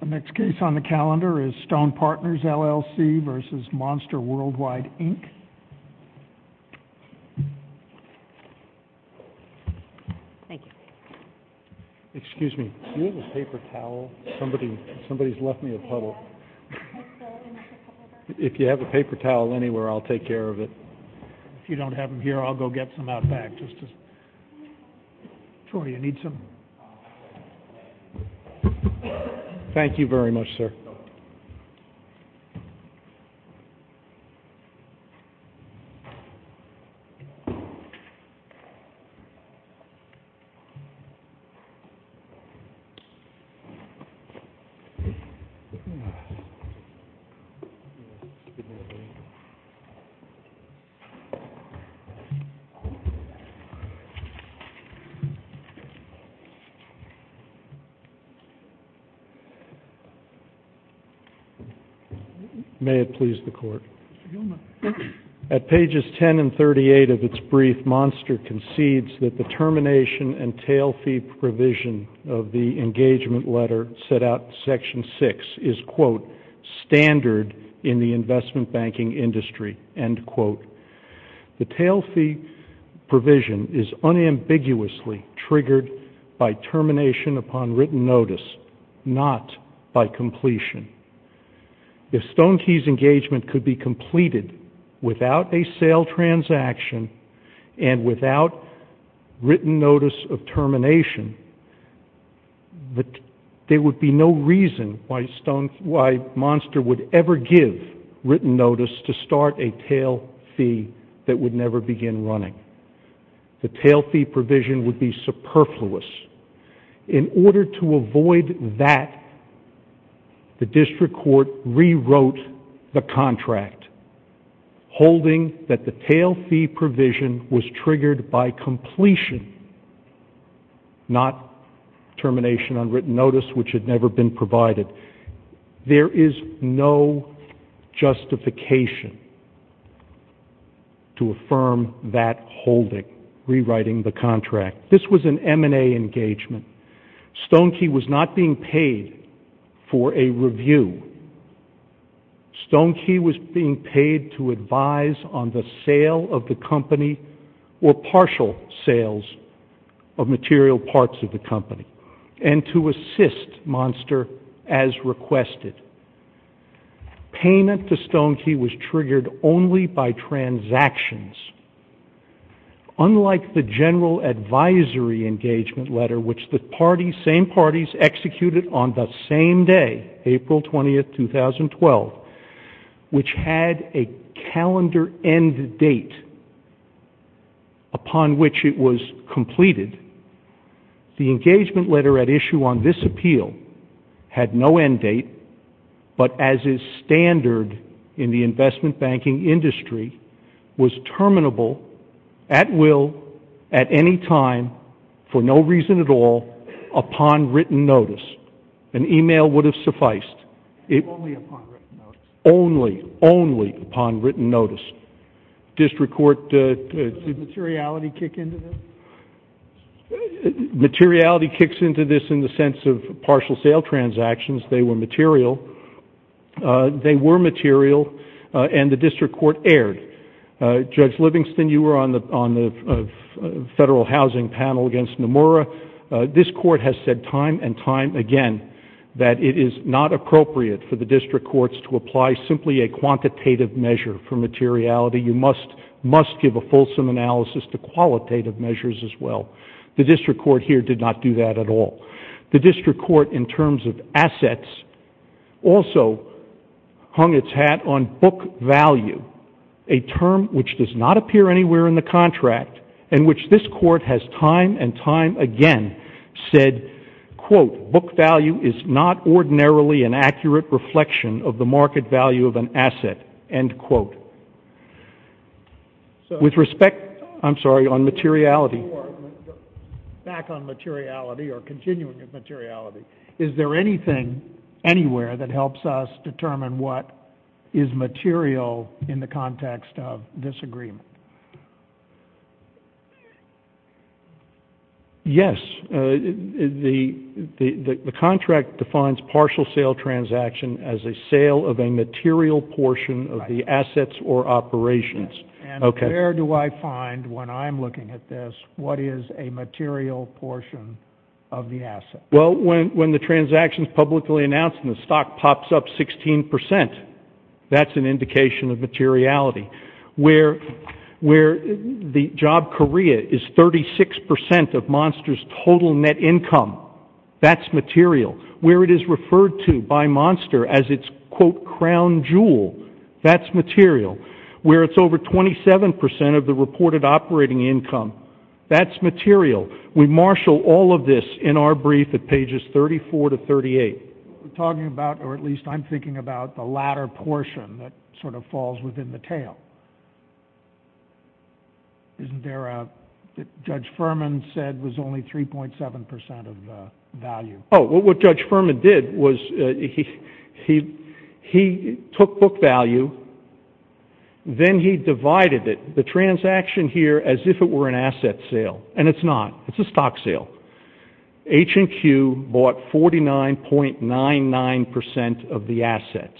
The next case on the calendar is Stone Partners LLC v. Monster Worldwide, Inc. Excuse me. Do you have a paper towel? Somebody's left me a puddle. If you have a paper towel anywhere, I'll take care of it. If you don't have them here, I'll go get some out back. Troy, you need some? Thank you very much, sir. May it please the Court. At pages 10 and 38 of its brief, Monster concedes that the termination and tail fee provision of the engagement letter set out in Section 6 is, quote, by termination upon written notice, not by completion. If Stone Key's engagement could be completed without a sale transaction and without written notice of termination, there would be no reason why Monster would ever give written notice to start a tail fee that would never begin running. The tail fee provision would be superfluous. In order to avoid that, the District Court rewrote the contract holding that the tail fee provision was triggered by completion, not termination on written notice, which had never been provided. There is no justification to affirm that holding, rewriting the contract. This was an M&A engagement. Stone Key was not being paid for a review. Stone Key was being paid to advise on the sale of the company or partial sales of material parts of the company and to assist Monster as requested. Payment to Stone Key was triggered only by transactions. Unlike the general advisory engagement letter, which the same parties executed on the same day, April 20, 2012, which had a calendar end date upon which it was completed, the engagement letter at issue on this appeal had no end date, but as is standard in the investment banking industry, was terminable at will, at any time, for no reason at all, upon written notice. An email would have sufficed. Only upon written notice. Only, only upon written notice. Did materiality kick into this? Materiality kicks into this in the sense of partial sale transactions. They were material, and the District Court erred. Judge Livingston, you were on the federal housing panel against Nomura. This Court has said time and time again that it is not appropriate for the District Courts to apply simply a quantitative measure for materiality. You must give a fulsome analysis to qualitative measures as well. The District Court here did not do that at all. The District Court, in terms of assets, also hung its hat on book value, a term which does not appear anywhere in the contract and which this Court has time and time again said, quote, book value is not ordinarily an accurate reflection of the market value of an asset, end quote. With respect, I'm sorry, on materiality, back on materiality or continuing of materiality, is there anything anywhere that helps us determine what is material in the context of this agreement? Yes. The contract defines partial sale transaction as a sale of a material portion of the assets or operations. And where do I find, when I'm looking at this, what is a material portion of the asset? Well, when the transaction is publicly announced and the stock pops up 16%, that's an indication of materiality. Where the job career is 36% of Monster's total net income, that's material. Where it is referred to by Monster as its, quote, crown jewel, that's material. Where it's over 27% of the reported operating income, that's material. We marshal all of this in our brief at pages 34 to 38. We're talking about, or at least I'm thinking about, the latter portion that sort of falls within the tail. Isn't there a, that Judge Furman said was only 3.7% of the value? Oh, what Judge Furman did was he took book value, then he divided it, the transaction here, as if it were an asset sale. And it's not. It's a stock sale. H&Q bought 49.99% of the assets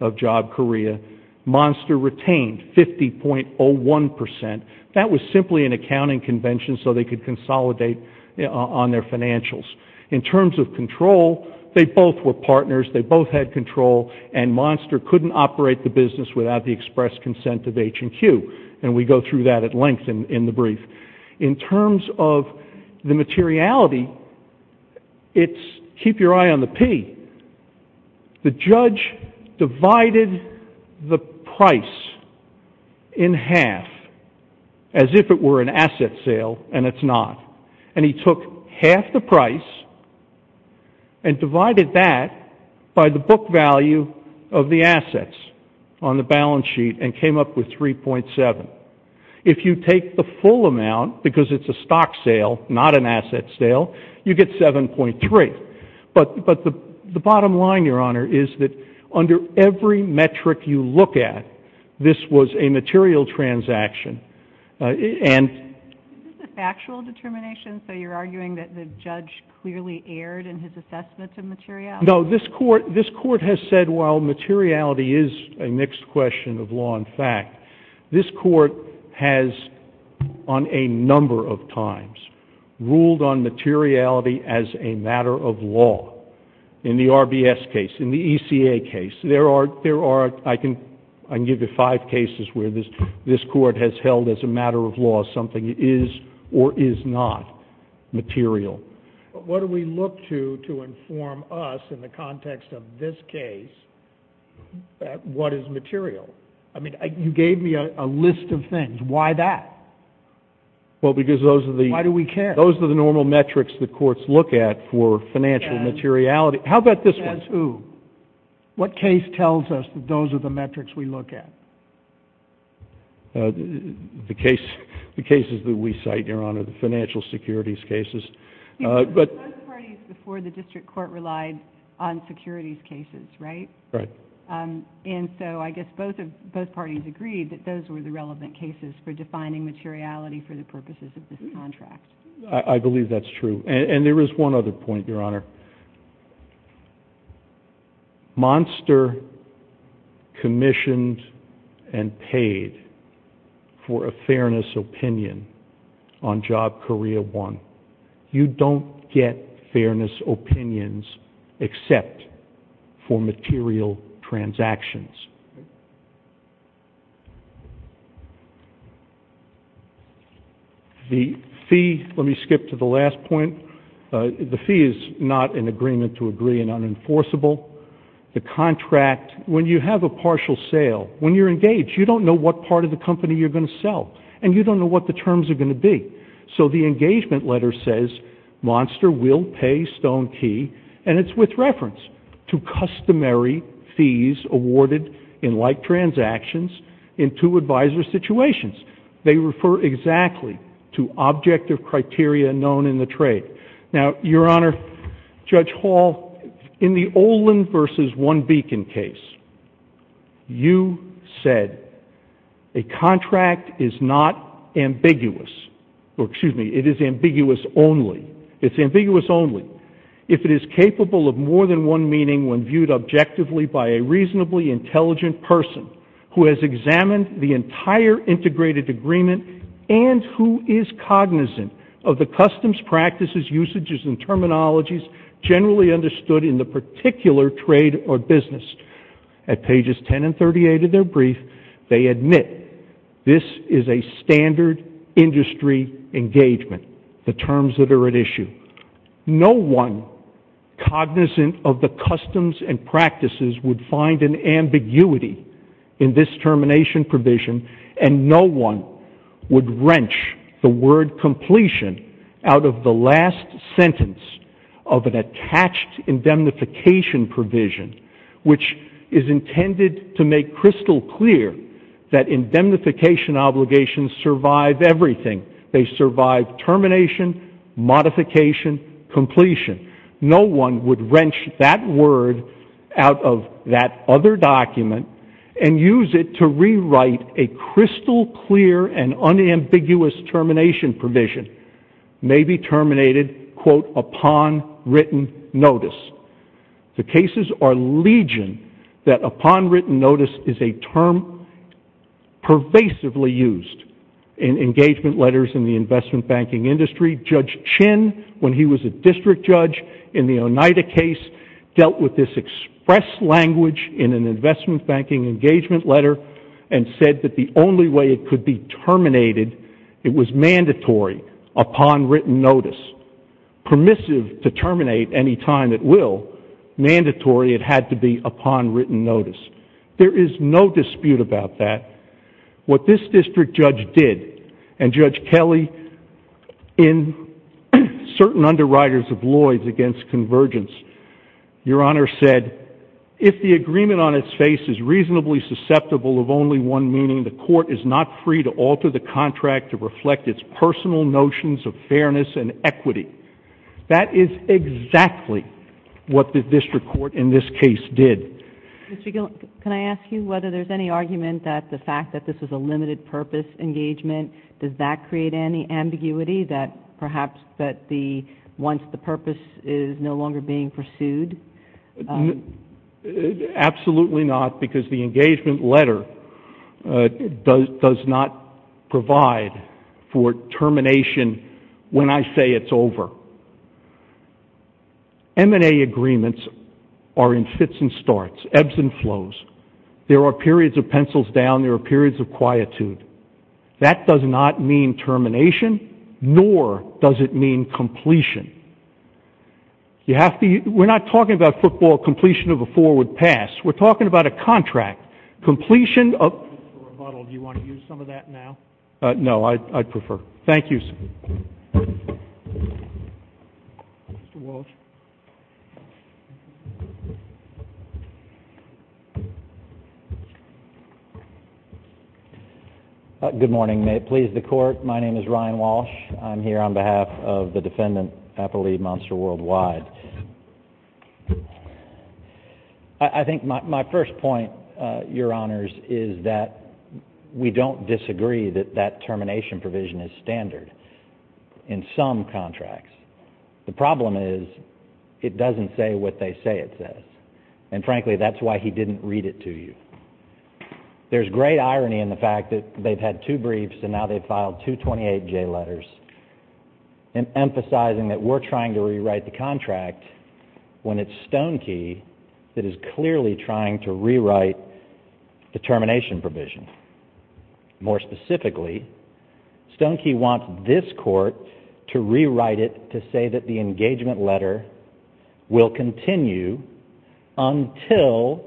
of Job Korea. Monster retained 50.01%. That was simply an accounting convention so they could consolidate on their financials. In terms of control, they both were partners, they both had control, and Monster couldn't operate the business without the express consent of H&Q. And we go through that at length in the brief. In terms of the materiality, it's, keep your eye on the P. The judge divided the price in half, as if it were an asset sale, and it's not. And he took half the price and divided that by the book value of the assets on the balance sheet and came up with 3.7. If you take the full amount, because it's a stock sale, not an asset sale, you get 7.3. But the bottom line, Your Honor, is that under every metric you look at, this was a material transaction. Is this a factual determination, so you're arguing that the judge clearly erred in his assessment of materiality? No, this court has said, well, materiality is a mixed question of law and fact. This court has, on a number of times, ruled on materiality as a matter of law. In the RBS case, in the ECA case, there are, I can give you five cases where this court has held as a matter of law something is or is not material. But what do we look to, to inform us in the context of this case, what is material? I mean, you gave me a list of things. Why that? Well, because those are the— Why do we care? Those are the normal metrics that courts look at for financial materiality. How about this one? As who? What case tells us that those are the metrics we look at? The cases that we cite, Your Honor, the financial securities cases. Most parties before the district court relied on securities cases, right? Right. And so I guess both parties agreed that those were the relevant cases for defining materiality for the purposes of this contract. I believe that's true. And there is one other point, Your Honor. Monster commissioned and paid for a fairness opinion on job career one. You don't get fairness opinions except for material transactions. The fee—let me skip to the last point. The fee is not an agreement to agree and unenforceable. The contract—when you have a partial sale, when you're engaged, you don't know what part of the company you're going to sell. And you don't know what the terms are going to be. So the engagement letter says, Monster will pay Stone Key, and it's with reference to customary fees awarded to employees. In like transactions, in two-advisor situations, they refer exactly to objective criteria known in the trade. Now, Your Honor, Judge Hall, in the Olin v. One Beacon case, you said a contract is not ambiguous—or, excuse me, it is ambiguous only. It's ambiguous only. If it is capable of more than one meaning when viewed objectively by a reasonably intelligent person who has examined the entire integrated agreement and who is cognizant of the customs, practices, usages, and terminologies generally understood in the particular trade or business. At pages 10 and 38 of their brief, they admit this is a standard industry engagement, the terms that are at issue. No one cognizant of the customs and practices would find an ambiguity in this termination provision, and no one would wrench the word completion out of the last sentence of an attached indemnification provision, which is intended to make crystal clear that indemnification obligations survive everything. They survive termination, modification, completion. No one would wrench that word out of that other document and use it to rewrite a crystal clear and unambiguous termination provision. It may be terminated, quote, upon written notice. The cases are legion that upon written notice is a term pervasively used in engagement letters in the investment banking industry. Judge Chin, when he was a district judge in the Oneida case, dealt with this express language in an investment banking engagement letter and said that the only way it could be terminated, it was mandatory upon written notice, permissive to terminate any time it will, mandatory it had to be upon written notice. There is no dispute about that. What this district judge did, and Judge Kelly in certain underwriters of Lloyds against convergence, Your Honor said, if the agreement on its face is reasonably susceptible of only one meaning, the court is not free to alter the contract to reflect its personal notions of fairness and equity. That is exactly what the district court in this case did. Mr. Gill, can I ask you whether there's any argument that the fact that this was a limited purpose engagement, does that create any ambiguity that perhaps that once the purpose is no longer being pursued? Absolutely not, because the engagement letter does not provide for termination when I say it's over. M&A agreements are in fits and starts, ebbs and flows. There are periods of pencils down. There are periods of quietude. That does not mean termination, nor does it mean completion. We're not talking about football completion of a forward pass. We're talking about a contract. Mr. Rebuttal, do you want to use some of that now? No, I'd prefer. Thank you, sir. Good morning. May it please the Court, my name is Ryan Walsh. I'm here on behalf of the defendant, Appleby Monster Worldwide. I think my first point, Your Honors, is that we don't disagree that that termination provision is standard in some contracts. The problem is it doesn't say what they say it says, and frankly, that's why he didn't read it to you. There's great irony in the fact that they've had two briefs and now they've filed two 28-J letters, emphasizing that we're trying to rewrite the contract when it's Stonekey that is clearly trying to rewrite the termination provision. More specifically, Stonekey wants this Court to rewrite it to say that the engagement letter will continue until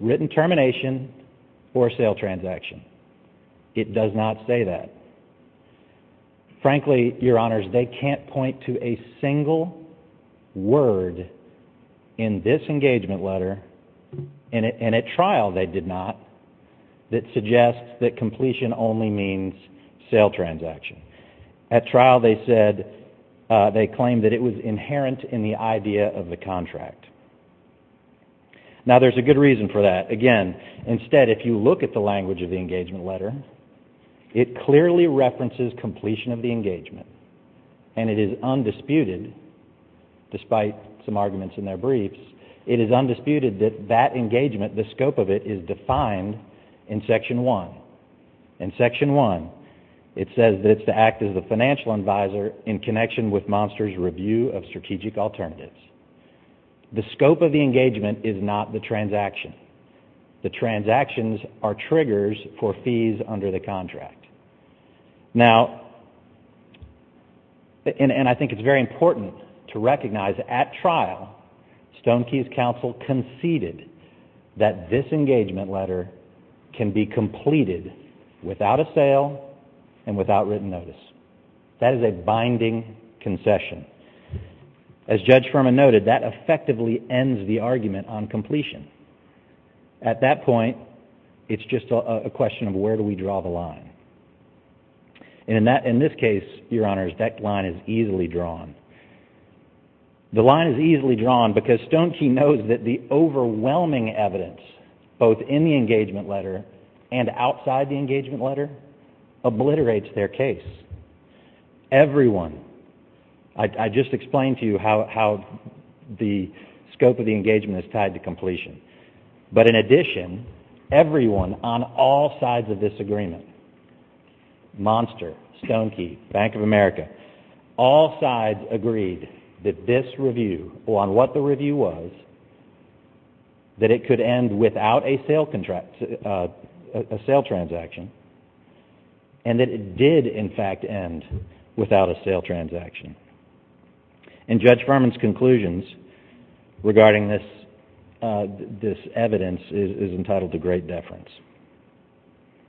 written termination or sale transaction. It does not say that. Frankly, Your Honors, they can't point to a single word in this engagement letter, and at trial they did not, that suggests that completion only means sale transaction. At trial they said, they claimed that it was inherent in the idea of the contract. Now, there's a good reason for that. Again, instead, if you look at the language of the engagement letter, it clearly references completion of the engagement, and it is undisputed, despite some arguments in their briefs, it is undisputed that that engagement, the scope of it, is defined in Section 1. In Section 1, it says that it's to act as the financial advisor in connection with Monster's review of strategic alternatives. The scope of the engagement is not the transaction. The transactions are triggers for fees under the contract. Now, and I think it's very important to recognize that at trial, Stonekey's counsel conceded that this engagement letter can be completed without a sale and without written notice. That is a binding concession. As Judge Furman noted, that effectively ends the argument on completion. At that point, it's just a question of where do we draw the line. And in this case, Your Honors, that line is easily drawn. The line is easily drawn because Stonekey knows that the overwhelming evidence, both in the engagement letter and outside the engagement letter, obliterates their case. Everyone, I just explained to you how the scope of the engagement is tied to completion. But in addition, everyone on all sides of this agreement, Monster, Stonekey, Bank of America, all sides agreed that this review, on what the review was, that it could end without a sale transaction, and that it did, in fact, end without a sale transaction. And Judge Furman's conclusions regarding this evidence is entitled to great deference.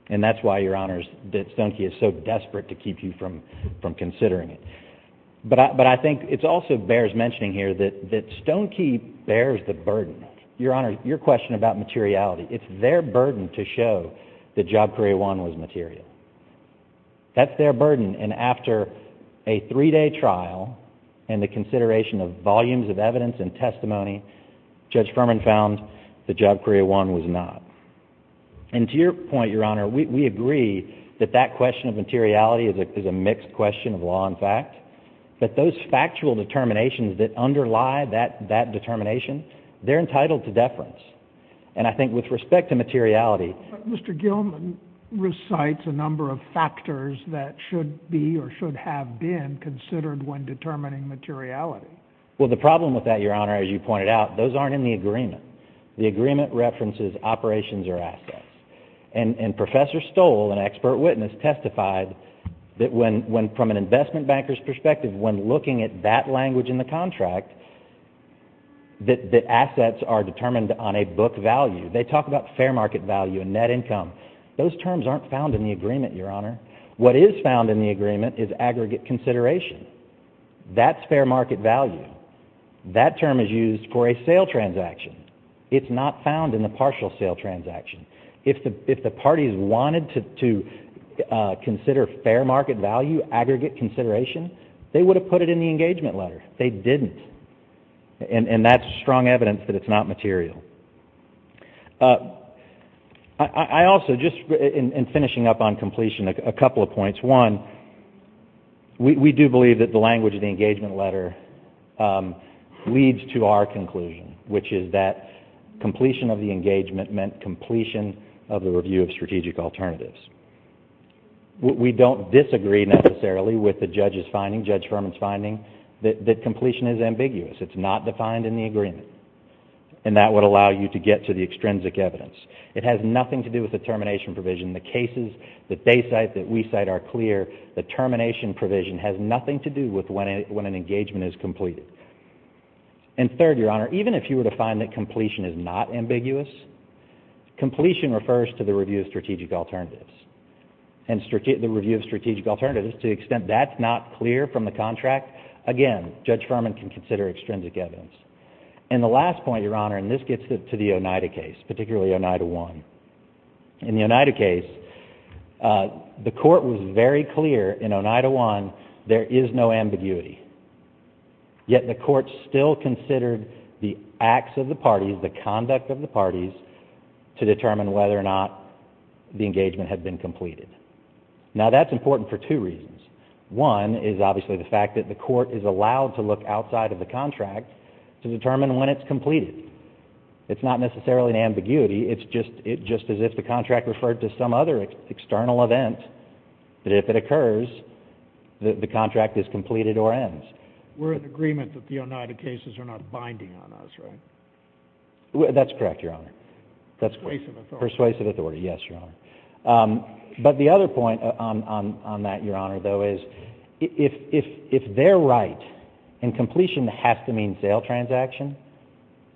And that's why, Your Honors, that Stonekey is so desperate to keep you from considering it. But I think it also bears mentioning here that Stonekey bears the burden. Your Honor, your question about materiality, it's their burden to show that Job Career I was material. That's their burden, and after a three-day trial and the consideration of volumes of evidence and testimony, Judge Furman found that Job Career I was not. And to your point, Your Honor, we agree that that question of materiality is a mixed question of law and fact. But those factual determinations that underlie that determination, they're entitled to deference. And I think with respect to materiality— But Mr. Gilman recites a number of factors that should be or should have been considered when determining materiality. Well, the problem with that, Your Honor, as you pointed out, those aren't in the agreement. The agreement references operations or assets. And Professor Stoll, an expert witness, testified that when, from an investment banker's perspective, when looking at that language in the contract, that assets are determined on a book value. They talk about fair market value and net income. Those terms aren't found in the agreement, Your Honor. What is found in the agreement is aggregate consideration. That's fair market value. That term is used for a sale transaction. It's not found in the partial sale transaction. If the parties wanted to consider fair market value, aggregate consideration, they would have put it in the engagement letter. They didn't. And that's strong evidence that it's not material. I also, just in finishing up on completion, a couple of points. One, we do believe that the language in the engagement letter leads to our conclusion, which is that completion of the engagement meant completion of the review of strategic alternatives. We don't disagree necessarily with the judge's finding, Judge Furman's finding, that completion is ambiguous. It's not defined in the agreement. And that would allow you to get to the extrinsic evidence. It has nothing to do with the termination provision. The cases that they cite, that we cite are clear. The termination provision has nothing to do with when an engagement is completed. And third, Your Honor, even if you were to find that completion is not ambiguous, completion refers to the review of strategic alternatives. And the review of strategic alternatives, to the extent that's not clear from the contract, again, Judge Furman can consider extrinsic evidence. And the last point, Your Honor, and this gets to the Oneida case, particularly Oneida 1. In the Oneida case, the court was very clear in Oneida 1 there is no ambiguity. Yet the court still considered the acts of the parties, the conduct of the parties, to determine whether or not the engagement had been completed. Now, that's important for two reasons. One is obviously the fact that the court is allowed to look outside of the contract to determine when it's completed. It's not necessarily an ambiguity. It's just as if the contract referred to some other external event, that if it occurs, the contract is completed or ends. We're in agreement that the Oneida cases are not binding on us, right? That's correct, Your Honor. Persuasive authority. Persuasive authority, yes, Your Honor. But the other point on that, Your Honor, though, is if they're right and completion has to mean sale transaction,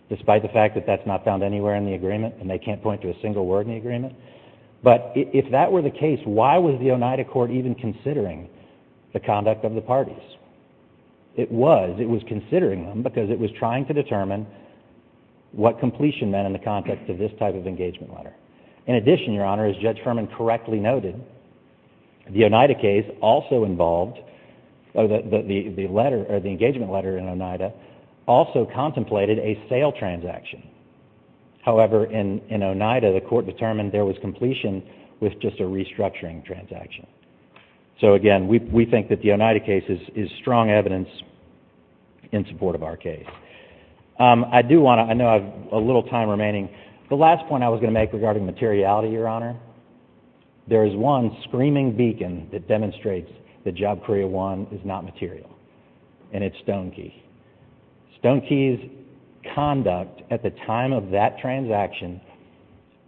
despite the fact that that's not found anywhere in the agreement and they can't point to a single word in the agreement, but if that were the case, why was the Oneida court even considering the conduct of the parties? It was. It was considering them because it was trying to determine what completion meant in the context of this type of engagement letter. In addition, Your Honor, as Judge Herman correctly noted, the Oneida case also involved, the letter, the engagement letter in Oneida, also contemplated a sale transaction. However, in Oneida, the court determined there was completion with just a restructuring transaction. So, again, we think that the Oneida case is strong evidence in support of our case. I do want to, I know I have a little time remaining. The last point I was going to make regarding materiality, Your Honor, there is one screaming beacon that demonstrates that Job Korea One is not material, and it's Stonekey. Stonekey's conduct at the time of that transaction,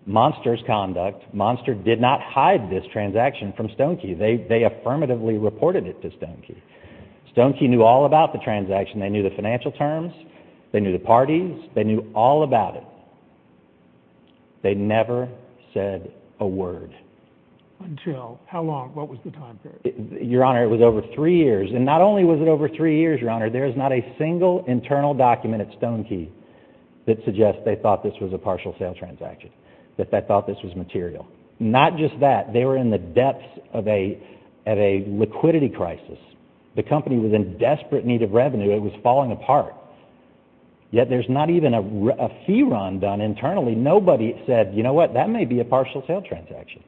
Monster's conduct, Monster did not hide this transaction from Stonekey. They affirmatively reported it to Stonekey. Stonekey knew all about the transaction. They knew the financial terms. They knew the parties. They knew all about it. They never said a word. Until how long? What was the time period? Your Honor, it was over three years, and not only was it over three years, Your Honor, there is not a single internal document at Stonekey that suggests they thought this was a partial sale transaction, that they thought this was material. Not just that, they were in the depths of a liquidity crisis. The company was in desperate need of revenue. It was falling apart. Yet there's not even a fee run done internally. Nobody said, you know what, that may be a partial sale transaction.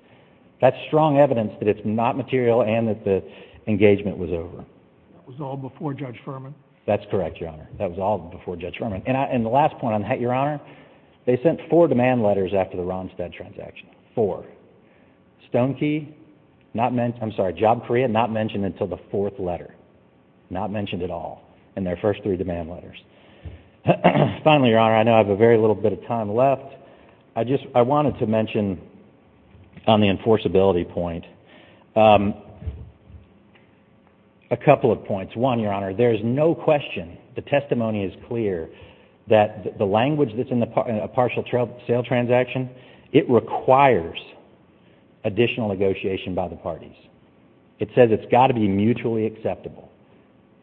That's strong evidence that it's not material and that the engagement was over. That was all before Judge Furman? That's correct, Your Honor. That was all before Judge Furman. And the last point I'm going to make, Your Honor, they sent four demand letters after the Ronstadt transaction. Four. Stonekey, Job Korea, not mentioned until the fourth letter. Not mentioned at all in their first three demand letters. Finally, Your Honor, I know I have a very little bit of time left. I wanted to mention on the enforceability point a couple of points. One, Your Honor, there is no question, the testimony is clear, that the language that's in a partial sale transaction, it requires additional negotiation by the parties. It says it's got to be mutually acceptable.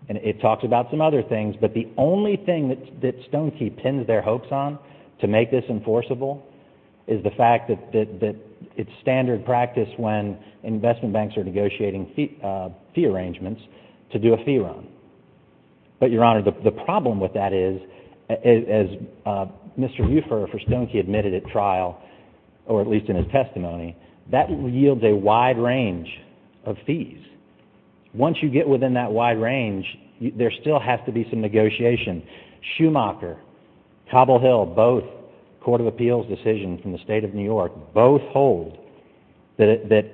And it talks about some other things, but the only thing that Stonekey pins their hopes on to make this enforceable is the fact that it's standard practice when investment banks are negotiating fee arrangements to do a fee run. But, Your Honor, the problem with that is, as Mr. Ruffer for Stonekey admitted at trial, or at least in his testimony, that yields a wide range of fees. Once you get within that wide range, there still has to be some negotiation. Schumacher, Cobble Hill, both Court of Appeals decisions in the State of New York, both hold that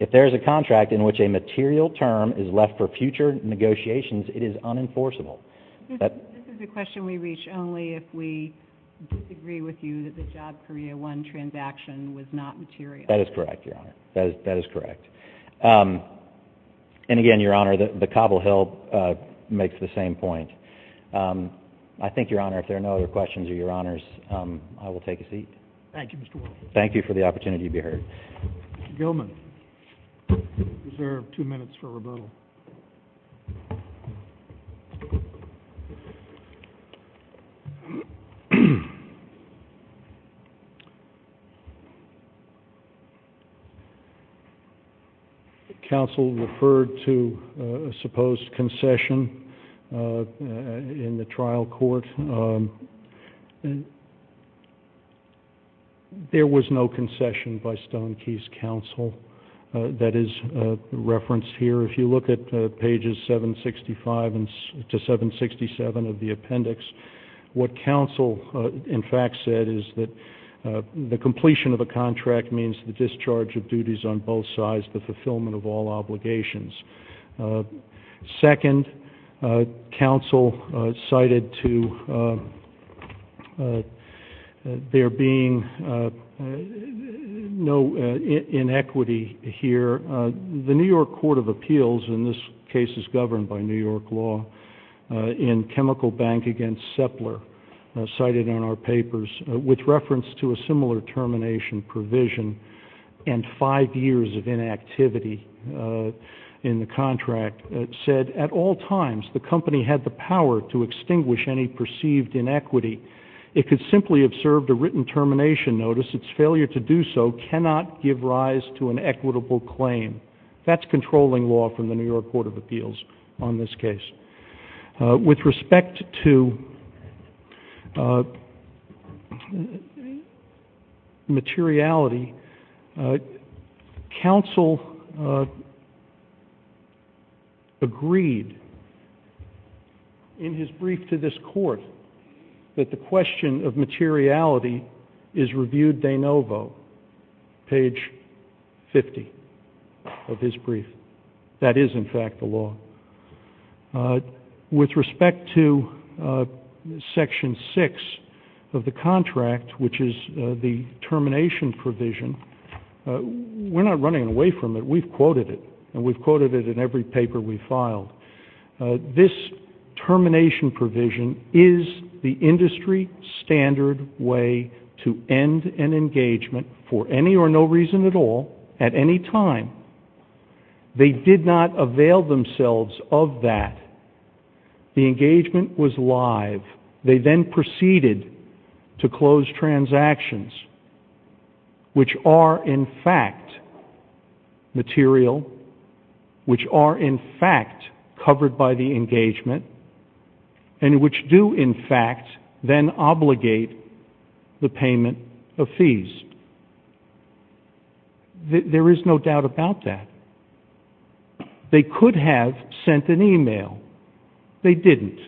if there is a contract in which a material term is left for future negotiations, it is unenforceable. This is a question we reach only if we disagree with you that the Job Korea One transaction was not material. That is correct, Your Honor. That is correct. And again, Your Honor, the Cobble Hill makes the same point. I think, Your Honor, if there are no other questions of Your Honors, I will take a seat. Thank you, Mr. Wilson. Thank you for the opportunity to be heard. Mr. Gilman, you have two minutes for rebuttal. Counsel referred to a supposed concession in the trial court. There was no concession by Stonekey's counsel that is referenced here. If you look at pages 765 to 767 of the appendix, what counsel, in fact, said is that the completion of a contract means the discharge of duties on both sides, the fulfillment of all obligations. Second, counsel cited to there being no inequity here. The New York Court of Appeals, and this case is governed by New York law, in Chemical Bank against Sepler, cited in our papers with reference to a similar termination provision and five years of inactivity in the contract, said at all times the company had the power to extinguish any perceived inequity. It could simply have served a written termination notice. Its failure to do so cannot give rise to an equitable claim. That's controlling law from the New York Court of Appeals on this case. With respect to materiality, counsel agreed in his brief to this court that the question of materiality is reviewed de novo, page 50 of his brief. That is, in fact, the law. With respect to section 6 of the contract, which is the termination provision, we're not running away from it. We've quoted it, and we've quoted it in every paper we've filed. This termination provision is the industry standard way to end an engagement for any or no reason at all at any time. They did not avail themselves of that. The engagement was live. They then proceeded to close transactions which are, in fact, material, which are, in fact, covered by the engagement, and which do, in fact, then obligate the payment of fees. There is no doubt about that. They could have sent an email. They didn't.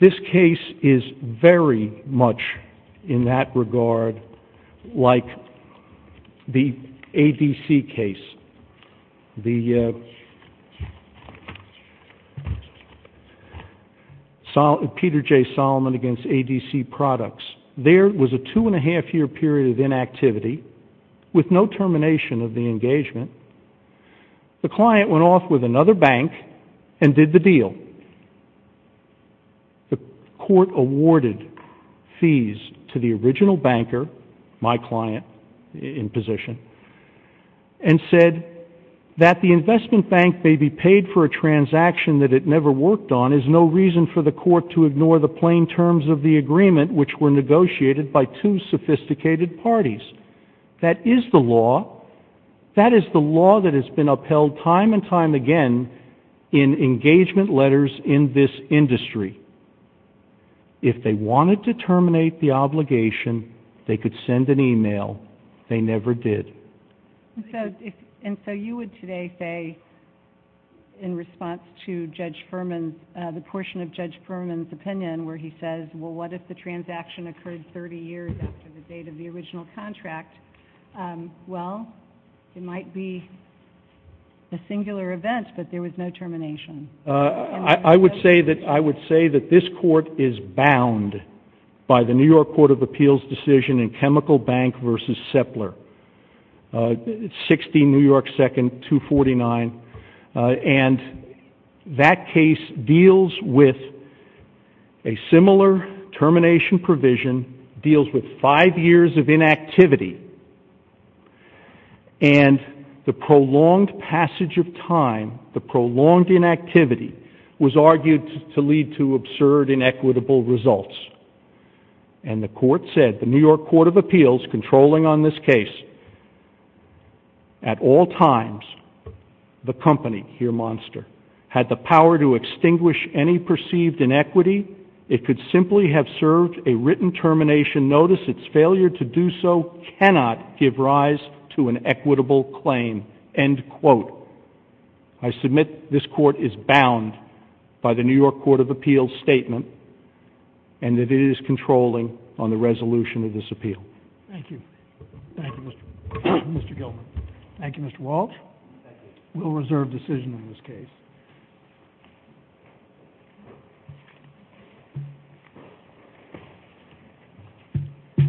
This case is very much in that regard like the ADC case, the Peter J. Solomon against ADC Products. There was a two-and-a-half-year period of inactivity with no termination of the engagement. The client went off with another bank and did the deal. The court awarded fees to the original banker, my client in position, and said that the investment bank may be paid for a transaction that it never worked on. There's no reason for the court to ignore the plain terms of the agreement, which were negotiated by two sophisticated parties. That is the law. That is the law that has been upheld time and time again in engagement letters in this industry. If they wanted to terminate the obligation, they could send an email. They never did. And so you would today say, in response to Judge Furman, the portion of Judge Furman's opinion where he says, well, what if the transaction occurred 30 years after the date of the original contract? Well, it might be a singular event, but there was no termination. I would say that this court is bound by the New York Court of Appeals decision in Chemical Bank v. Sepler, 16 New York 2nd, 249. And that case deals with a similar termination provision, deals with five years of inactivity, and the prolonged passage of time, the prolonged inactivity, was argued to lead to absurd, inequitable results. And the court said, the New York Court of Appeals, controlling on this case, at all times, the company, here Monster, had the power to extinguish any perceived inequity. It could simply have served a written termination notice. Its failure to do so cannot give rise to an equitable claim, end quote. I submit this court is bound by the New York Court of Appeals statement. And that it is controlling on the resolution of this appeal. Thank you. Thank you, Mr. Gilman. Thank you, Mr. Walsh. We'll reserve decision on this